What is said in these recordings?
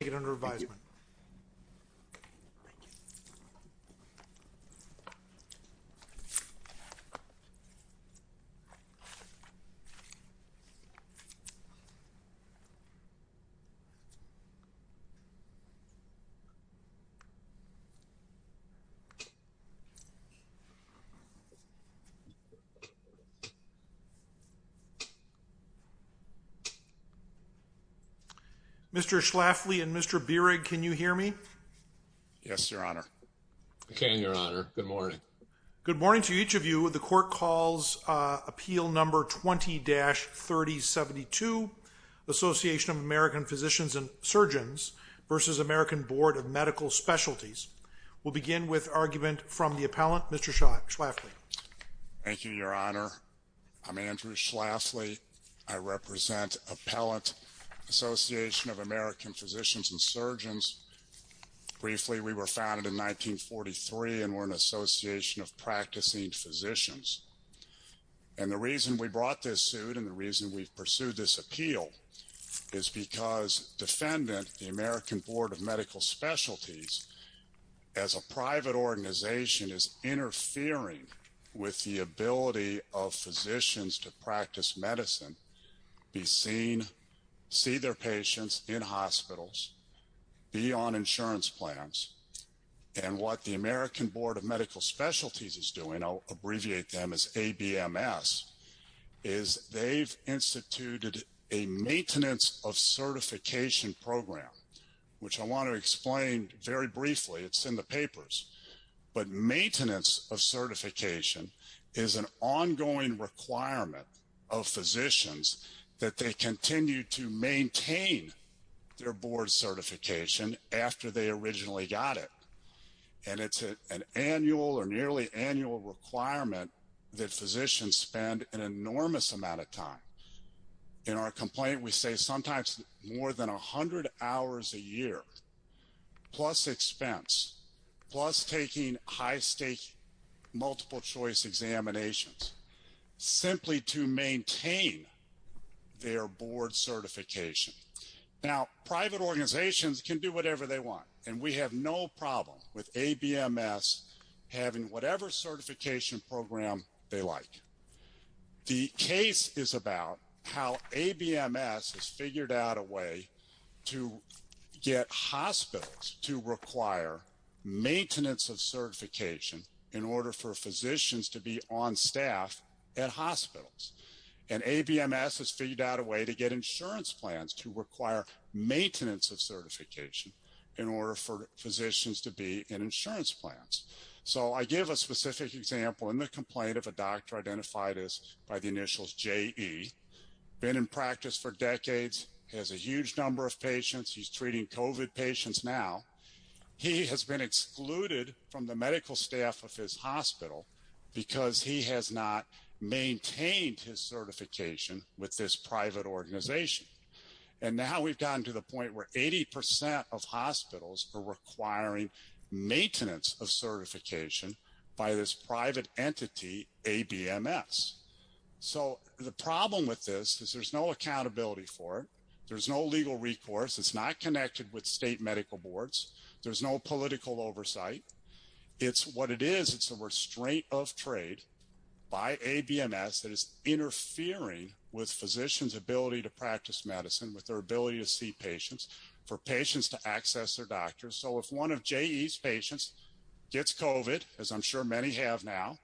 take it under advisement. Mr. Schlafly and Mr. Beerig, can you please come to the podium? Can you hear me? Yes, Your Honor. I can, Your Honor. Good morning. Good morning to each of you. The Court calls Appeal No. 20-3072, Association of American Physicians and Surgeons v. American Board of Medical Specialties. We'll begin with argument from the appellant, Mr. Schlafly. Thank you, Your Honor. I'm Andrew Schlafly. I represent Appellant Association of American Physicians and Surgeons. Briefly, we were founded in 1943 and we're an association of practicing physicians. And the reason we brought this suit and the reason we've pursued this appeal is because defendant, the American Board of Medical Specialties, as a private organization, is interfering with the ability of physicians to practice medicine, be seen, see their patients in hospitals, be on insurance plans. And what the American Board of Medical Specialties is doing, I'll abbreviate them as ABMS, is they've instituted a maintenance of certification program, which I want to explain very briefly. It's in the papers. But maintenance of certification is an ongoing requirement of physicians that they continue to maintain their board certification after they originally got it. And it's an annual or nearly annual requirement that physicians spend an enormous amount of time. In our complaint, we say sometimes more than 100 hours a year, plus expense, plus taking high stake multiple choice examinations, simply to maintain their board certification. Now, private organizations can do whatever they want. And we have no problem with ABMS having whatever certification program they like. The case is about how ABMS has figured out a way to get hospitals to require maintenance of certification in order for physicians to be on staff at hospitals. And ABMS has figured out a way to get insurance plans to require maintenance of certification in order for physicians to be in insurance plans. So I give a specific example in the complaint of a doctor identified as by the initials JE, been in practice for decades, has a huge number of patients. He's treating COVID patients now. He has been excluded from the medical staff of his hospital because he has not maintained his certification with this private organization. And now we've gotten to the point where 80% of hospitals are requiring maintenance of certification by this private entity, ABMS. So the problem with this is there's no accountability for it. There's no legal recourse. It's not connected with state medical boards. There's no political oversight. It's what it is. It's a restraint of trade by ABMS that is interfering with physicians' ability to practice medicine, with their ability to see patients, for patients to access their doctors. So if one of JE's patients gets COVID, as I'm sure many have now,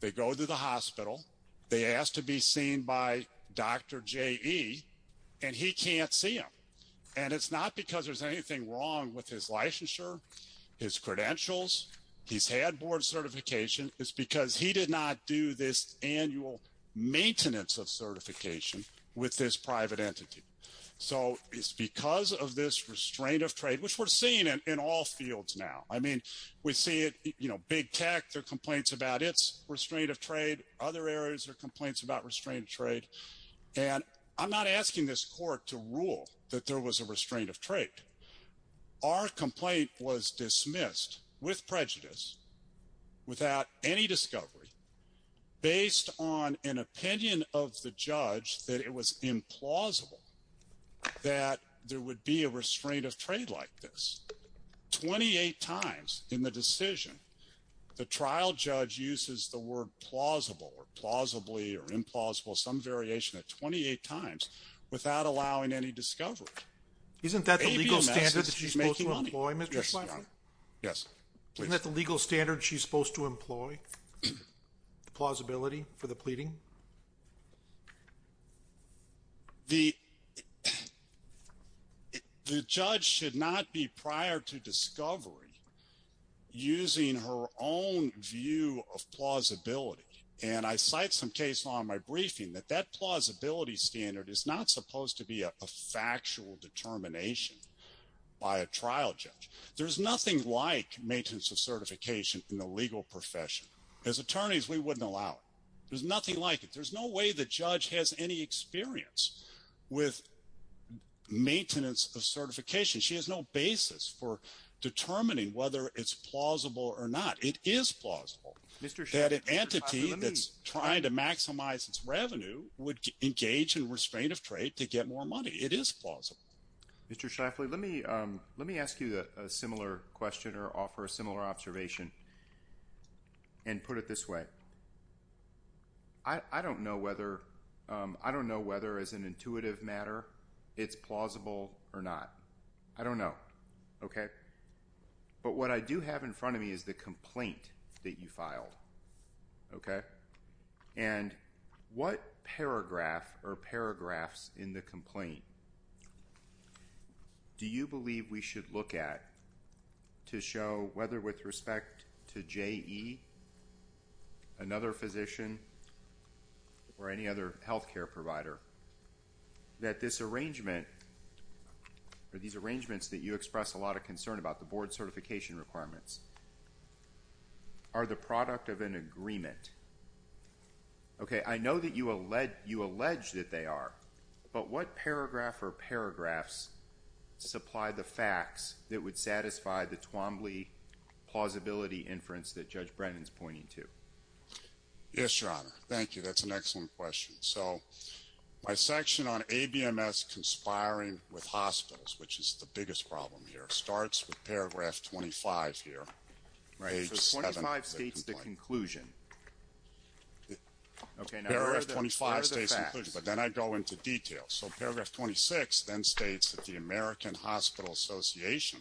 they go to the hospital, they ask to be seen by Dr. JE, and he can't see them. And it's not because there's anything wrong with his licensure, his credentials, his head board certification. It's because he did not do this annual maintenance of certification with this private entity. So it's because of this restraint of trade, which we're seeing in all fields now. I mean, we see it, you know, big tech, there are complaints about its restraint of trade. Other areas, there are complaints about restraint of trade. And I'm not asking this court to rule that there was a restraint of trade. Our complaint was dismissed with prejudice, without any discovery, based on an opinion of the judge that it was implausible that there would be a restraint of trade like this. 28 times in the decision, the trial judge uses the word plausible or plausibly or implausible, some variation at 28 times without allowing any discovery. Isn't that the legal standard that she's supposed to employ, Mr. Schlafly? Yes, please. Isn't that the legal standard she's supposed to employ, the plausibility for the pleading? The judge should not be prior to discovery using her own view of plausibility. And I cite some case law in my briefing that that plausibility standard is not supposed to be a factual determination by a trial judge. There's nothing like maintenance of certification in the legal profession. As attorneys, we wouldn't allow it. There's nothing like it. There's no way the judge has any experience with maintenance of certification. She has no basis for determining whether it's plausible or not. It is plausible that an entity that's trying to maximize its revenue would engage in restraint of trade to get more money. It is plausible. Mr. Schlafly, let me ask you a similar question or offer a similar observation and put it this way. I don't know whether as an intuitive matter it's plausible or not. I don't know. But what I do have in front of me is the complaint that you filed. Okay? And what paragraph or paragraphs in the complaint do you believe we should look at to show whether with respect to JE, another physician, or any other health care provider, that this arrangement or these arrangements that you express a lot of concern about, the board Okay, I know that you allege that they are. But what paragraph or paragraphs supply the facts that would satisfy the Twombly plausibility inference that Judge Brennan's pointing to? Yes, Your Honor. Thank you. That's an excellent question. So my section on ABMS conspiring with hospitals, which is the biggest problem here, starts with paragraph 25 here, page 7 of the complaint. Paragraph 25 states inclusion, but then I go into detail. So paragraph 26 then states that the American Hospital Association,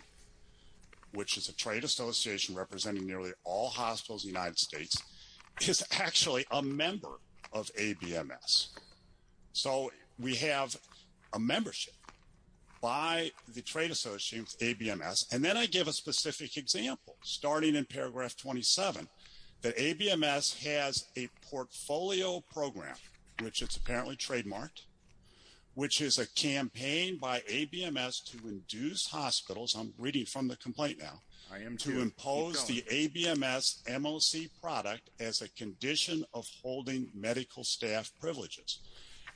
which is a trade association representing nearly all hospitals in the United States, is actually a member of ABMS. So we have a membership by the trade association with ABMS. And then I give a specific example, starting in paragraph 27, that ABMS has a portfolio program, which it's apparently trademarked, which is a campaign by ABMS to induce hospitals, I'm reading from the complaint now, to impose the ABMS MOC product as a condition of holding medical staff privileges.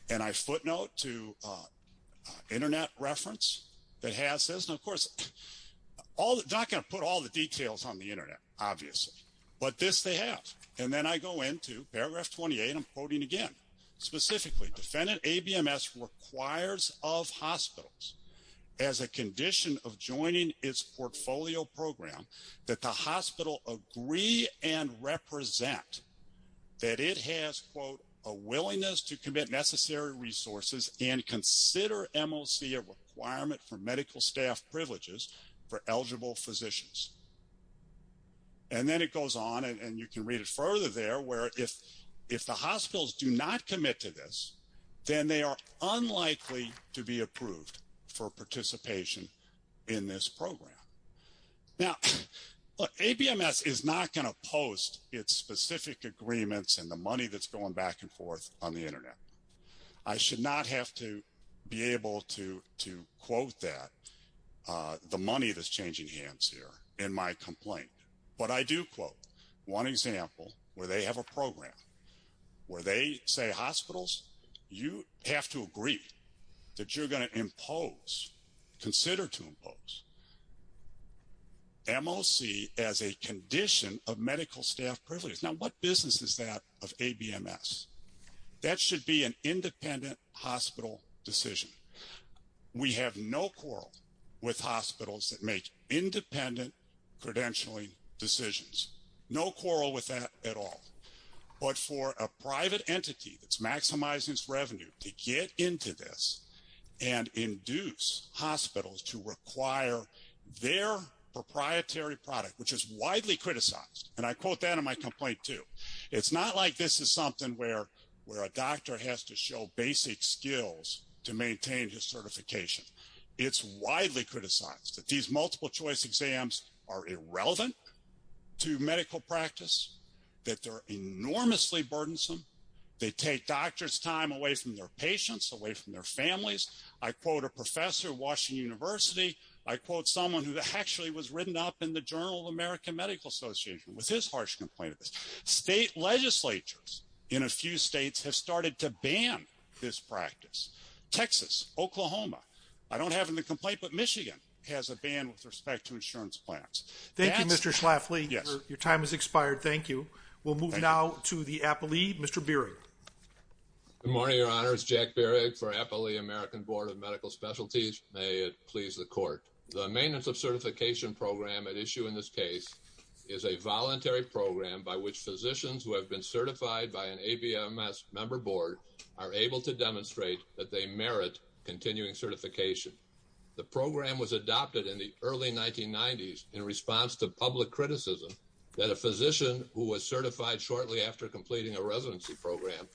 And I footnote to internet reference that has this, and of course, not going to put all the details on the internet, obviously, but this they have. And then I go into paragraph 28, I'm quoting again, specifically, defendant ABMS requires of hospitals as a condition of joining its portfolio program, that the hospital agree and represent that it has, quote, a willingness to commit necessary resources and consider MOC a requirement for medical staff privileges for eligible physicians. And then it goes on, and you can read it further there, where if the hospitals do not commit to this, then they are unlikely to be approved for participation in this program. Now, ABMS is not going to post its specific agreements and the money that's going back and forth on the internet. I should not have to be able to quote that, the money that's changing hands here in my complaint, but I do quote one example, where they have a program, where they say hospitals, you have to agree that you're going to impose, consider to impose MOC as a condition of medical staff privileges. Now, what business is that of ABMS? That should be an independent hospital decision. We have no quarrel with hospitals that make independent credentialing decisions, no quarrel with that at all. But for a private entity that's maximizing its revenue to get into this and induce hospitals to require their proprietary product, which is widely criticized, and I quote that in my complaint too, it's not like this is something where a doctor has to show basic skills to maintain his certification. It's widely criticized that these multiple choice exams are irrelevant to medical practice, that they're enormously burdensome. They take doctors' time away from their patients, away from their families. I quote a professor at Washington University. I quote someone who actually was written up in the Journal of American Medical Association with his harsh complaint of this. State legislatures in a few states have started to ban this practice. Texas, Oklahoma, I don't have in the complaint, but Michigan has a ban with respect to insurance plans. Thank you, Mr. Schlafly. Yes. Your time has expired. Thank you. We'll move now to the APALE. Mr. Bierig. Good morning, Your Honor. It's Jack Bierig for APALE American Board of Medical Specialties. May it please the court. The maintenance of certification program at issue in this case is a voluntary program by which physicians who have been certified by an ABMS member board are able to demonstrate that they merit continuing certification. The program was adopted in the early 1990s in response to public criticism that a physician who was certified shortly after completing a residency program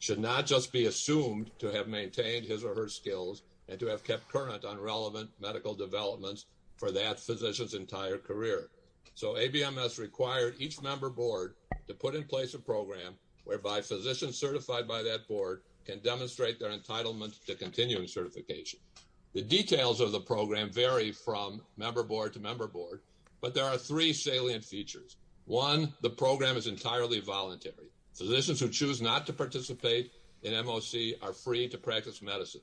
should not just be assumed to have maintained his or her skills and to have kept current on relevant medical developments for that physician's entire career. So ABMS required each member board to put in place a program whereby physicians certified by that board can demonstrate their entitlement to continuing certification. The details of the program vary from member board to member board, but there are three salient features. One, the program is entirely voluntary. Physicians who choose not to participate in MOC are free to practice medicine.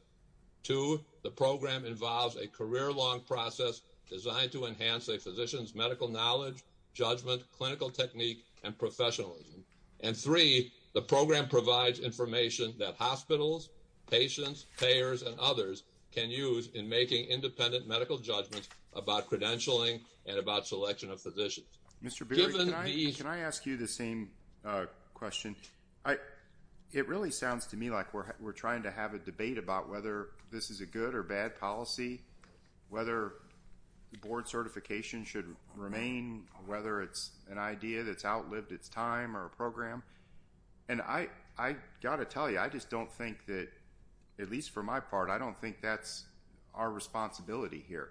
Two, the program involves a career-long process designed to enhance a physician's medical knowledge, judgment, clinical technique, and professionalism. And three, the program provides information that hospitals, patients, payers, and others can use in making independent medical judgments about credentialing and about selection of physicians. Mr. Beery, can I ask you the same question? It really sounds to me like we're trying to have a debate about whether this is a good or bad policy, whether board certification should remain, whether it's an idea that's And I got to tell you, I just don't think that, at least for my part, I don't think that's our responsibility here.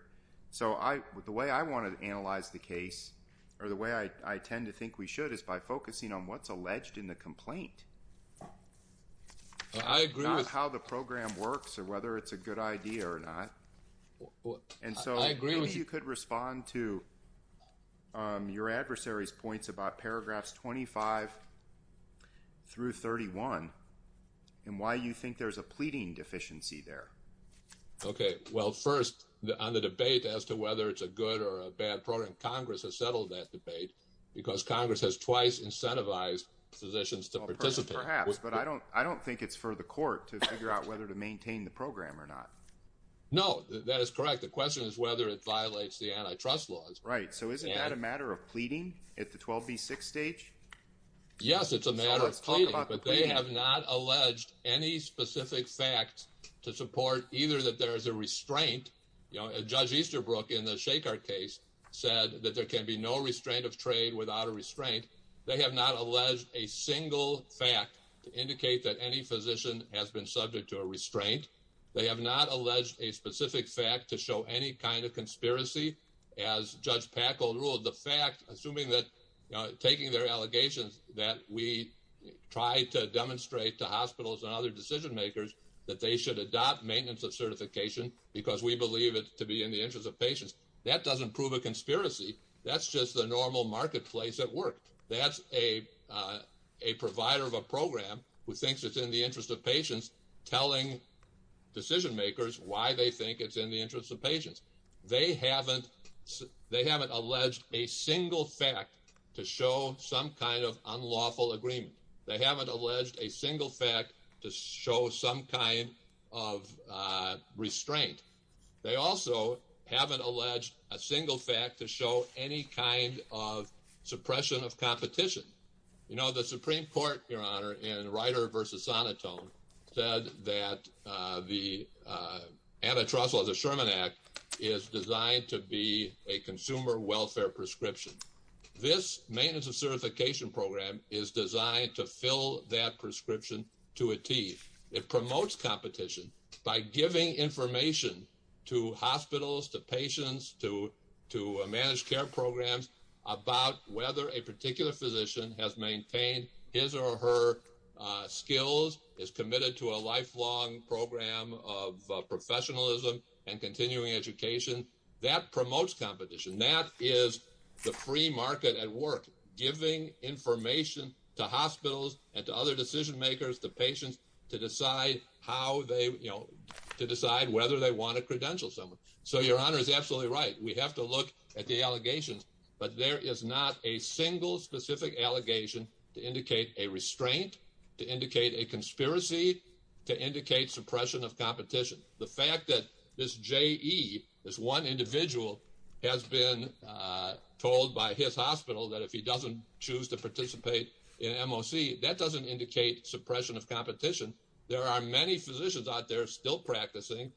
So the way I want to analyze the case, or the way I tend to think we should, is by focusing on what's alleged in the complaint, not how the program works or whether it's a good idea or not. And so maybe you could respond to your adversary's points about paragraphs 25 through 31, and why you think there's a pleading deficiency there. Okay, well first, on the debate as to whether it's a good or a bad program, Congress has settled that debate because Congress has twice incentivized physicians to participate. Perhaps, but I don't think it's for the court to figure out whether to maintain the program or not. No, that is correct. The question is whether it violates the antitrust laws. Right, so isn't that a matter of pleading at the 12B6 stage? Yes, it's a matter of pleading, but they have not alleged any specific fact to support either that there is a restraint. You know, Judge Easterbrook, in the Shacart case, said that there can be no restraint of trade without a restraint. They have not alleged a single fact to indicate that any physician has been subject to a restraint. They have not alleged a specific fact to show any kind of conspiracy, as Judge Packle ruled. The fact, assuming that, you know, taking their allegations that we try to demonstrate to hospitals and other decision makers that they should adopt maintenance of certification because we believe it to be in the interest of patients, that doesn't prove a conspiracy. That's just the normal marketplace at work. That's a provider of a program who thinks it's in the interest of patients telling decision makers why they think it's in the interest of patients. They haven't alleged a single fact to show some kind of unlawful agreement. They haven't alleged a single fact to show some kind of restraint. They also haven't alleged a single fact to show any kind of suppression of competition. You know, the Supreme Court, Your Honor, in Ryder v. Sonitone, said that the antitrust law, the Sherman Act, is designed to be a consumer welfare prescription. This maintenance of certification program is designed to fill that prescription to a T. It promotes competition by giving information to hospitals, to patients, to managed care programs about whether a particular physician has maintained his or her skills, is committed to a lifelong program of professionalism and continuing education. That promotes competition. That is the free market at work, giving information to hospitals and to other decision makers, to patients, to decide whether they want to credential someone. So Your Honor is absolutely right. We have to look at the allegations. But there is not a single specific allegation to indicate a restraint, to indicate a conspiracy, to indicate suppression of competition. The fact that this J.E., this one individual, has been told by his hospital that if he doesn't choose to participate in MOC, that doesn't indicate suppression of competition. There are many physicians out there still practicing.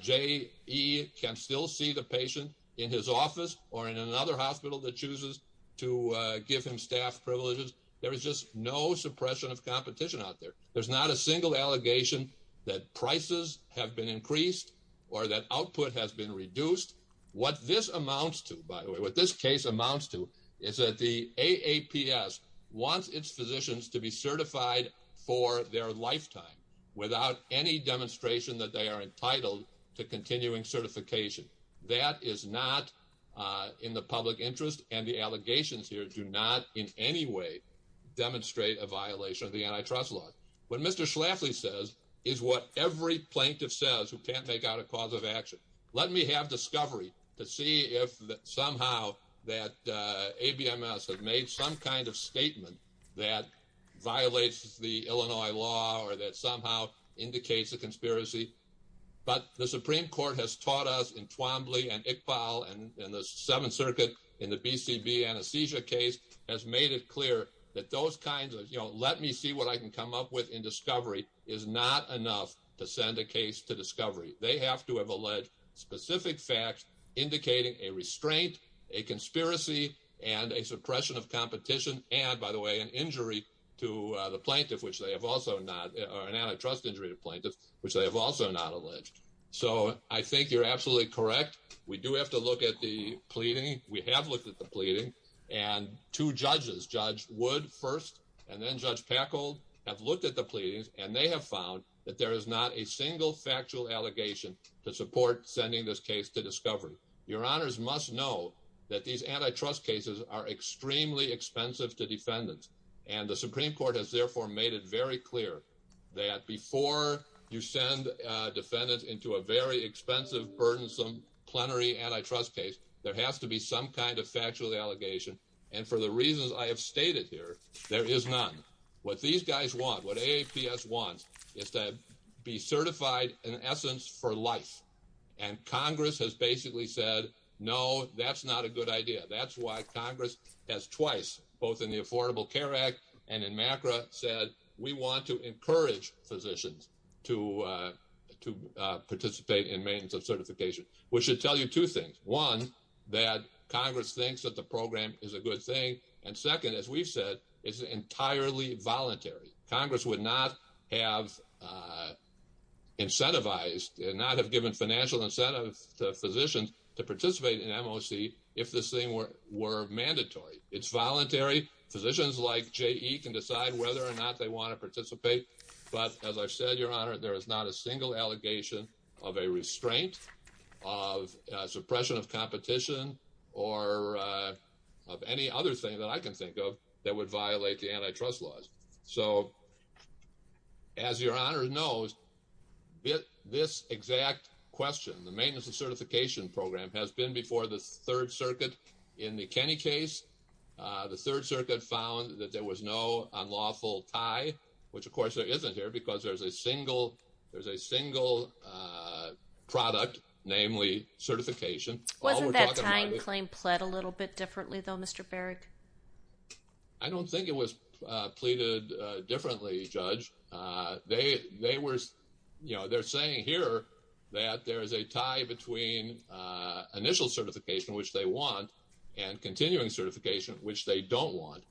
J.E. can still see the patient in his office or in another hospital that chooses to give him staff privileges. There is just no suppression of competition out there. There's not a single allegation that prices have been increased or that output has been reduced. What this amounts to, by the way, what this case amounts to is that the AAPS wants its physicians to be certified for their lifetime without any demonstration that they are entitled to continuing certification. That is not in the public interest, and the allegations here do not in any way demonstrate a violation of the antitrust law. What Mr. Schlafly says is what every plaintiff says who can't make out a cause of action. Let me have discovery to see if somehow that ABMS has made some kind of statement that violates the Illinois law or that somehow indicates a conspiracy. But the Supreme Court has taught us in Twombly and Iqbal and the Seventh Circuit in the BCB anesthesia case has made it clear that those kinds of, you know, let me see what I can come up with in discovery is not enough to send a case to discovery. They have to have alleged specific facts indicating a restraint, a conspiracy, and a suppression of competition and by the way, an injury to the plaintiff, which they have also not or an antitrust injury to plaintiffs, which they have also not alleged. So I think you're absolutely correct. We do have to look at the pleading. We have looked at the pleading and two judges, Judge Wood first and then Judge Packold have looked at the pleadings and they have found that there is not a single factual allegation to support sending this case to discovery. Your honors must know that these antitrust cases are extremely expensive to defendants and the Supreme Court has therefore made it very clear that before you send defendants into a very expensive, burdensome, plenary antitrust case, there has to be some kind of factual allegation and for the reasons I have stated here, there is none. What these guys want, what AAPS wants, is to be certified in essence for life and Congress has basically said, no, that's not a good idea. That's why Congress has twice, both in the Affordable Care Act and in MACRA, said we want to encourage physicians to participate in maintenance of certification, which should tell you two things. One, that Congress thinks that the program is a good thing and second, as we've said, it's entirely voluntary. Congress would not have incentivized and not have given financial incentive to physicians to participate in MOC if this thing were mandatory. It's voluntary. Physicians like J.E. can decide whether or not they want to participate. But as I've said, your honor, there is not a single allegation of a restraint, of suppression of competition or of any other thing that I can think of that would violate the antitrust laws. So as your honor knows, this exact question, the maintenance of certification program, has been before the third circuit in the Kenny case. The third circuit found that there was no unlawful tie, which of course there isn't here because there's a single, there's a single product, namely certification. Wasn't that time claim plead a little bit differently though, Mr. Barrett? I don't think it was pleaded differently, Judge. They were, you know, they're saying here that there is a tie between initial certification, which they want, and continuing certification, which they don't want.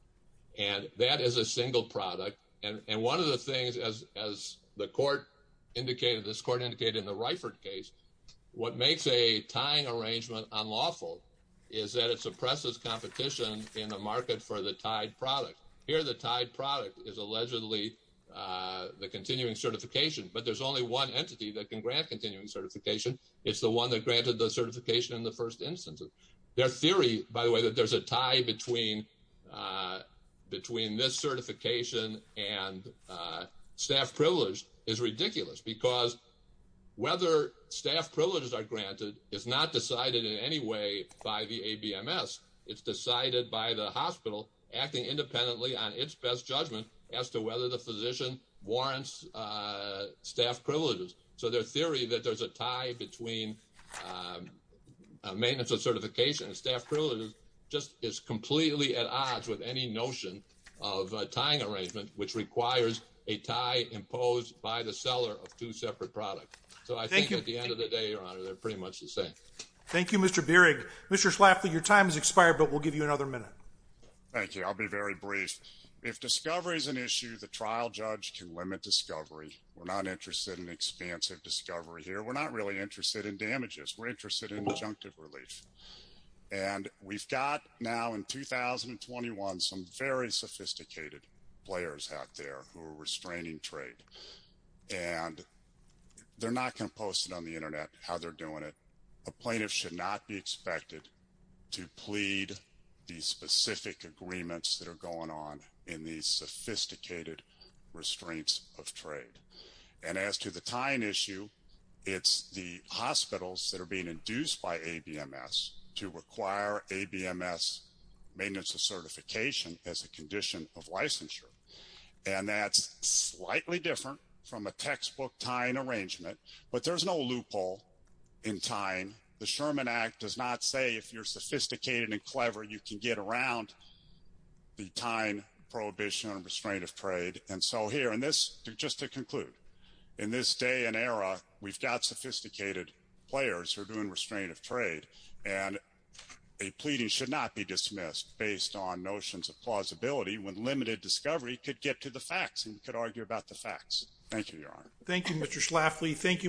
And that is a single product. And one of the things, as the court indicated, this court indicated in the Reifert case, what makes a tying arrangement unlawful is that it suppresses competition in the market for the tied product. Here, the tied product is allegedly the continuing certification. But there's only one entity that can grant continuing certification. It's the one that granted the certification in the first instance. Their theory, by the way, that there's a tie between this certification and staff privilege is ridiculous because whether staff privileges are granted is not decided in any way by the ABMS. It's decided by the hospital acting independently on its best judgment as to whether the physician warrants staff privileges. So their theory that there's a tie between maintenance of certification and staff privilege just is completely at odds with any notion of a tying arrangement, which requires a tie imposed by the seller of two separate products. So I think at the end of the day, Your Honor, they're pretty much the same. Thank you, Mr. Bierig. Mr. Schlafly, your time has expired, but we'll give you another minute. Thank you. I'll be very brief. If discovery is an issue, the trial judge can limit discovery. We're not interested in expansive discovery here. We're not really interested in damages. We're interested in injunctive relief. And we've got now in 2021 some very sophisticated players out there who are restraining trade. And they're not going to post it on the internet how they're doing it. A plaintiff should not be expected to plead these specific agreements that are going on in these sophisticated restraints of trade. And as to the tying issue, it's the hospitals that are being induced by ABMS to require ABMS maintenance of certification as a condition of licensure. And that's slightly different from a textbook tying arrangement. But there's no loophole in tying. The Sherman Act does not say if you're sophisticated and clever, you can get around the tying prohibition and restraint of trade. And so here in this, just to conclude, in this day and era, we've got sophisticated players who are doing restraint of trade. And a pleading should not be dismissed based on notions of plausibility when limited discovery could get to the facts and could argue about the facts. Thank you, Your Honor. Thank you, Mr. Schlafly. Thank you.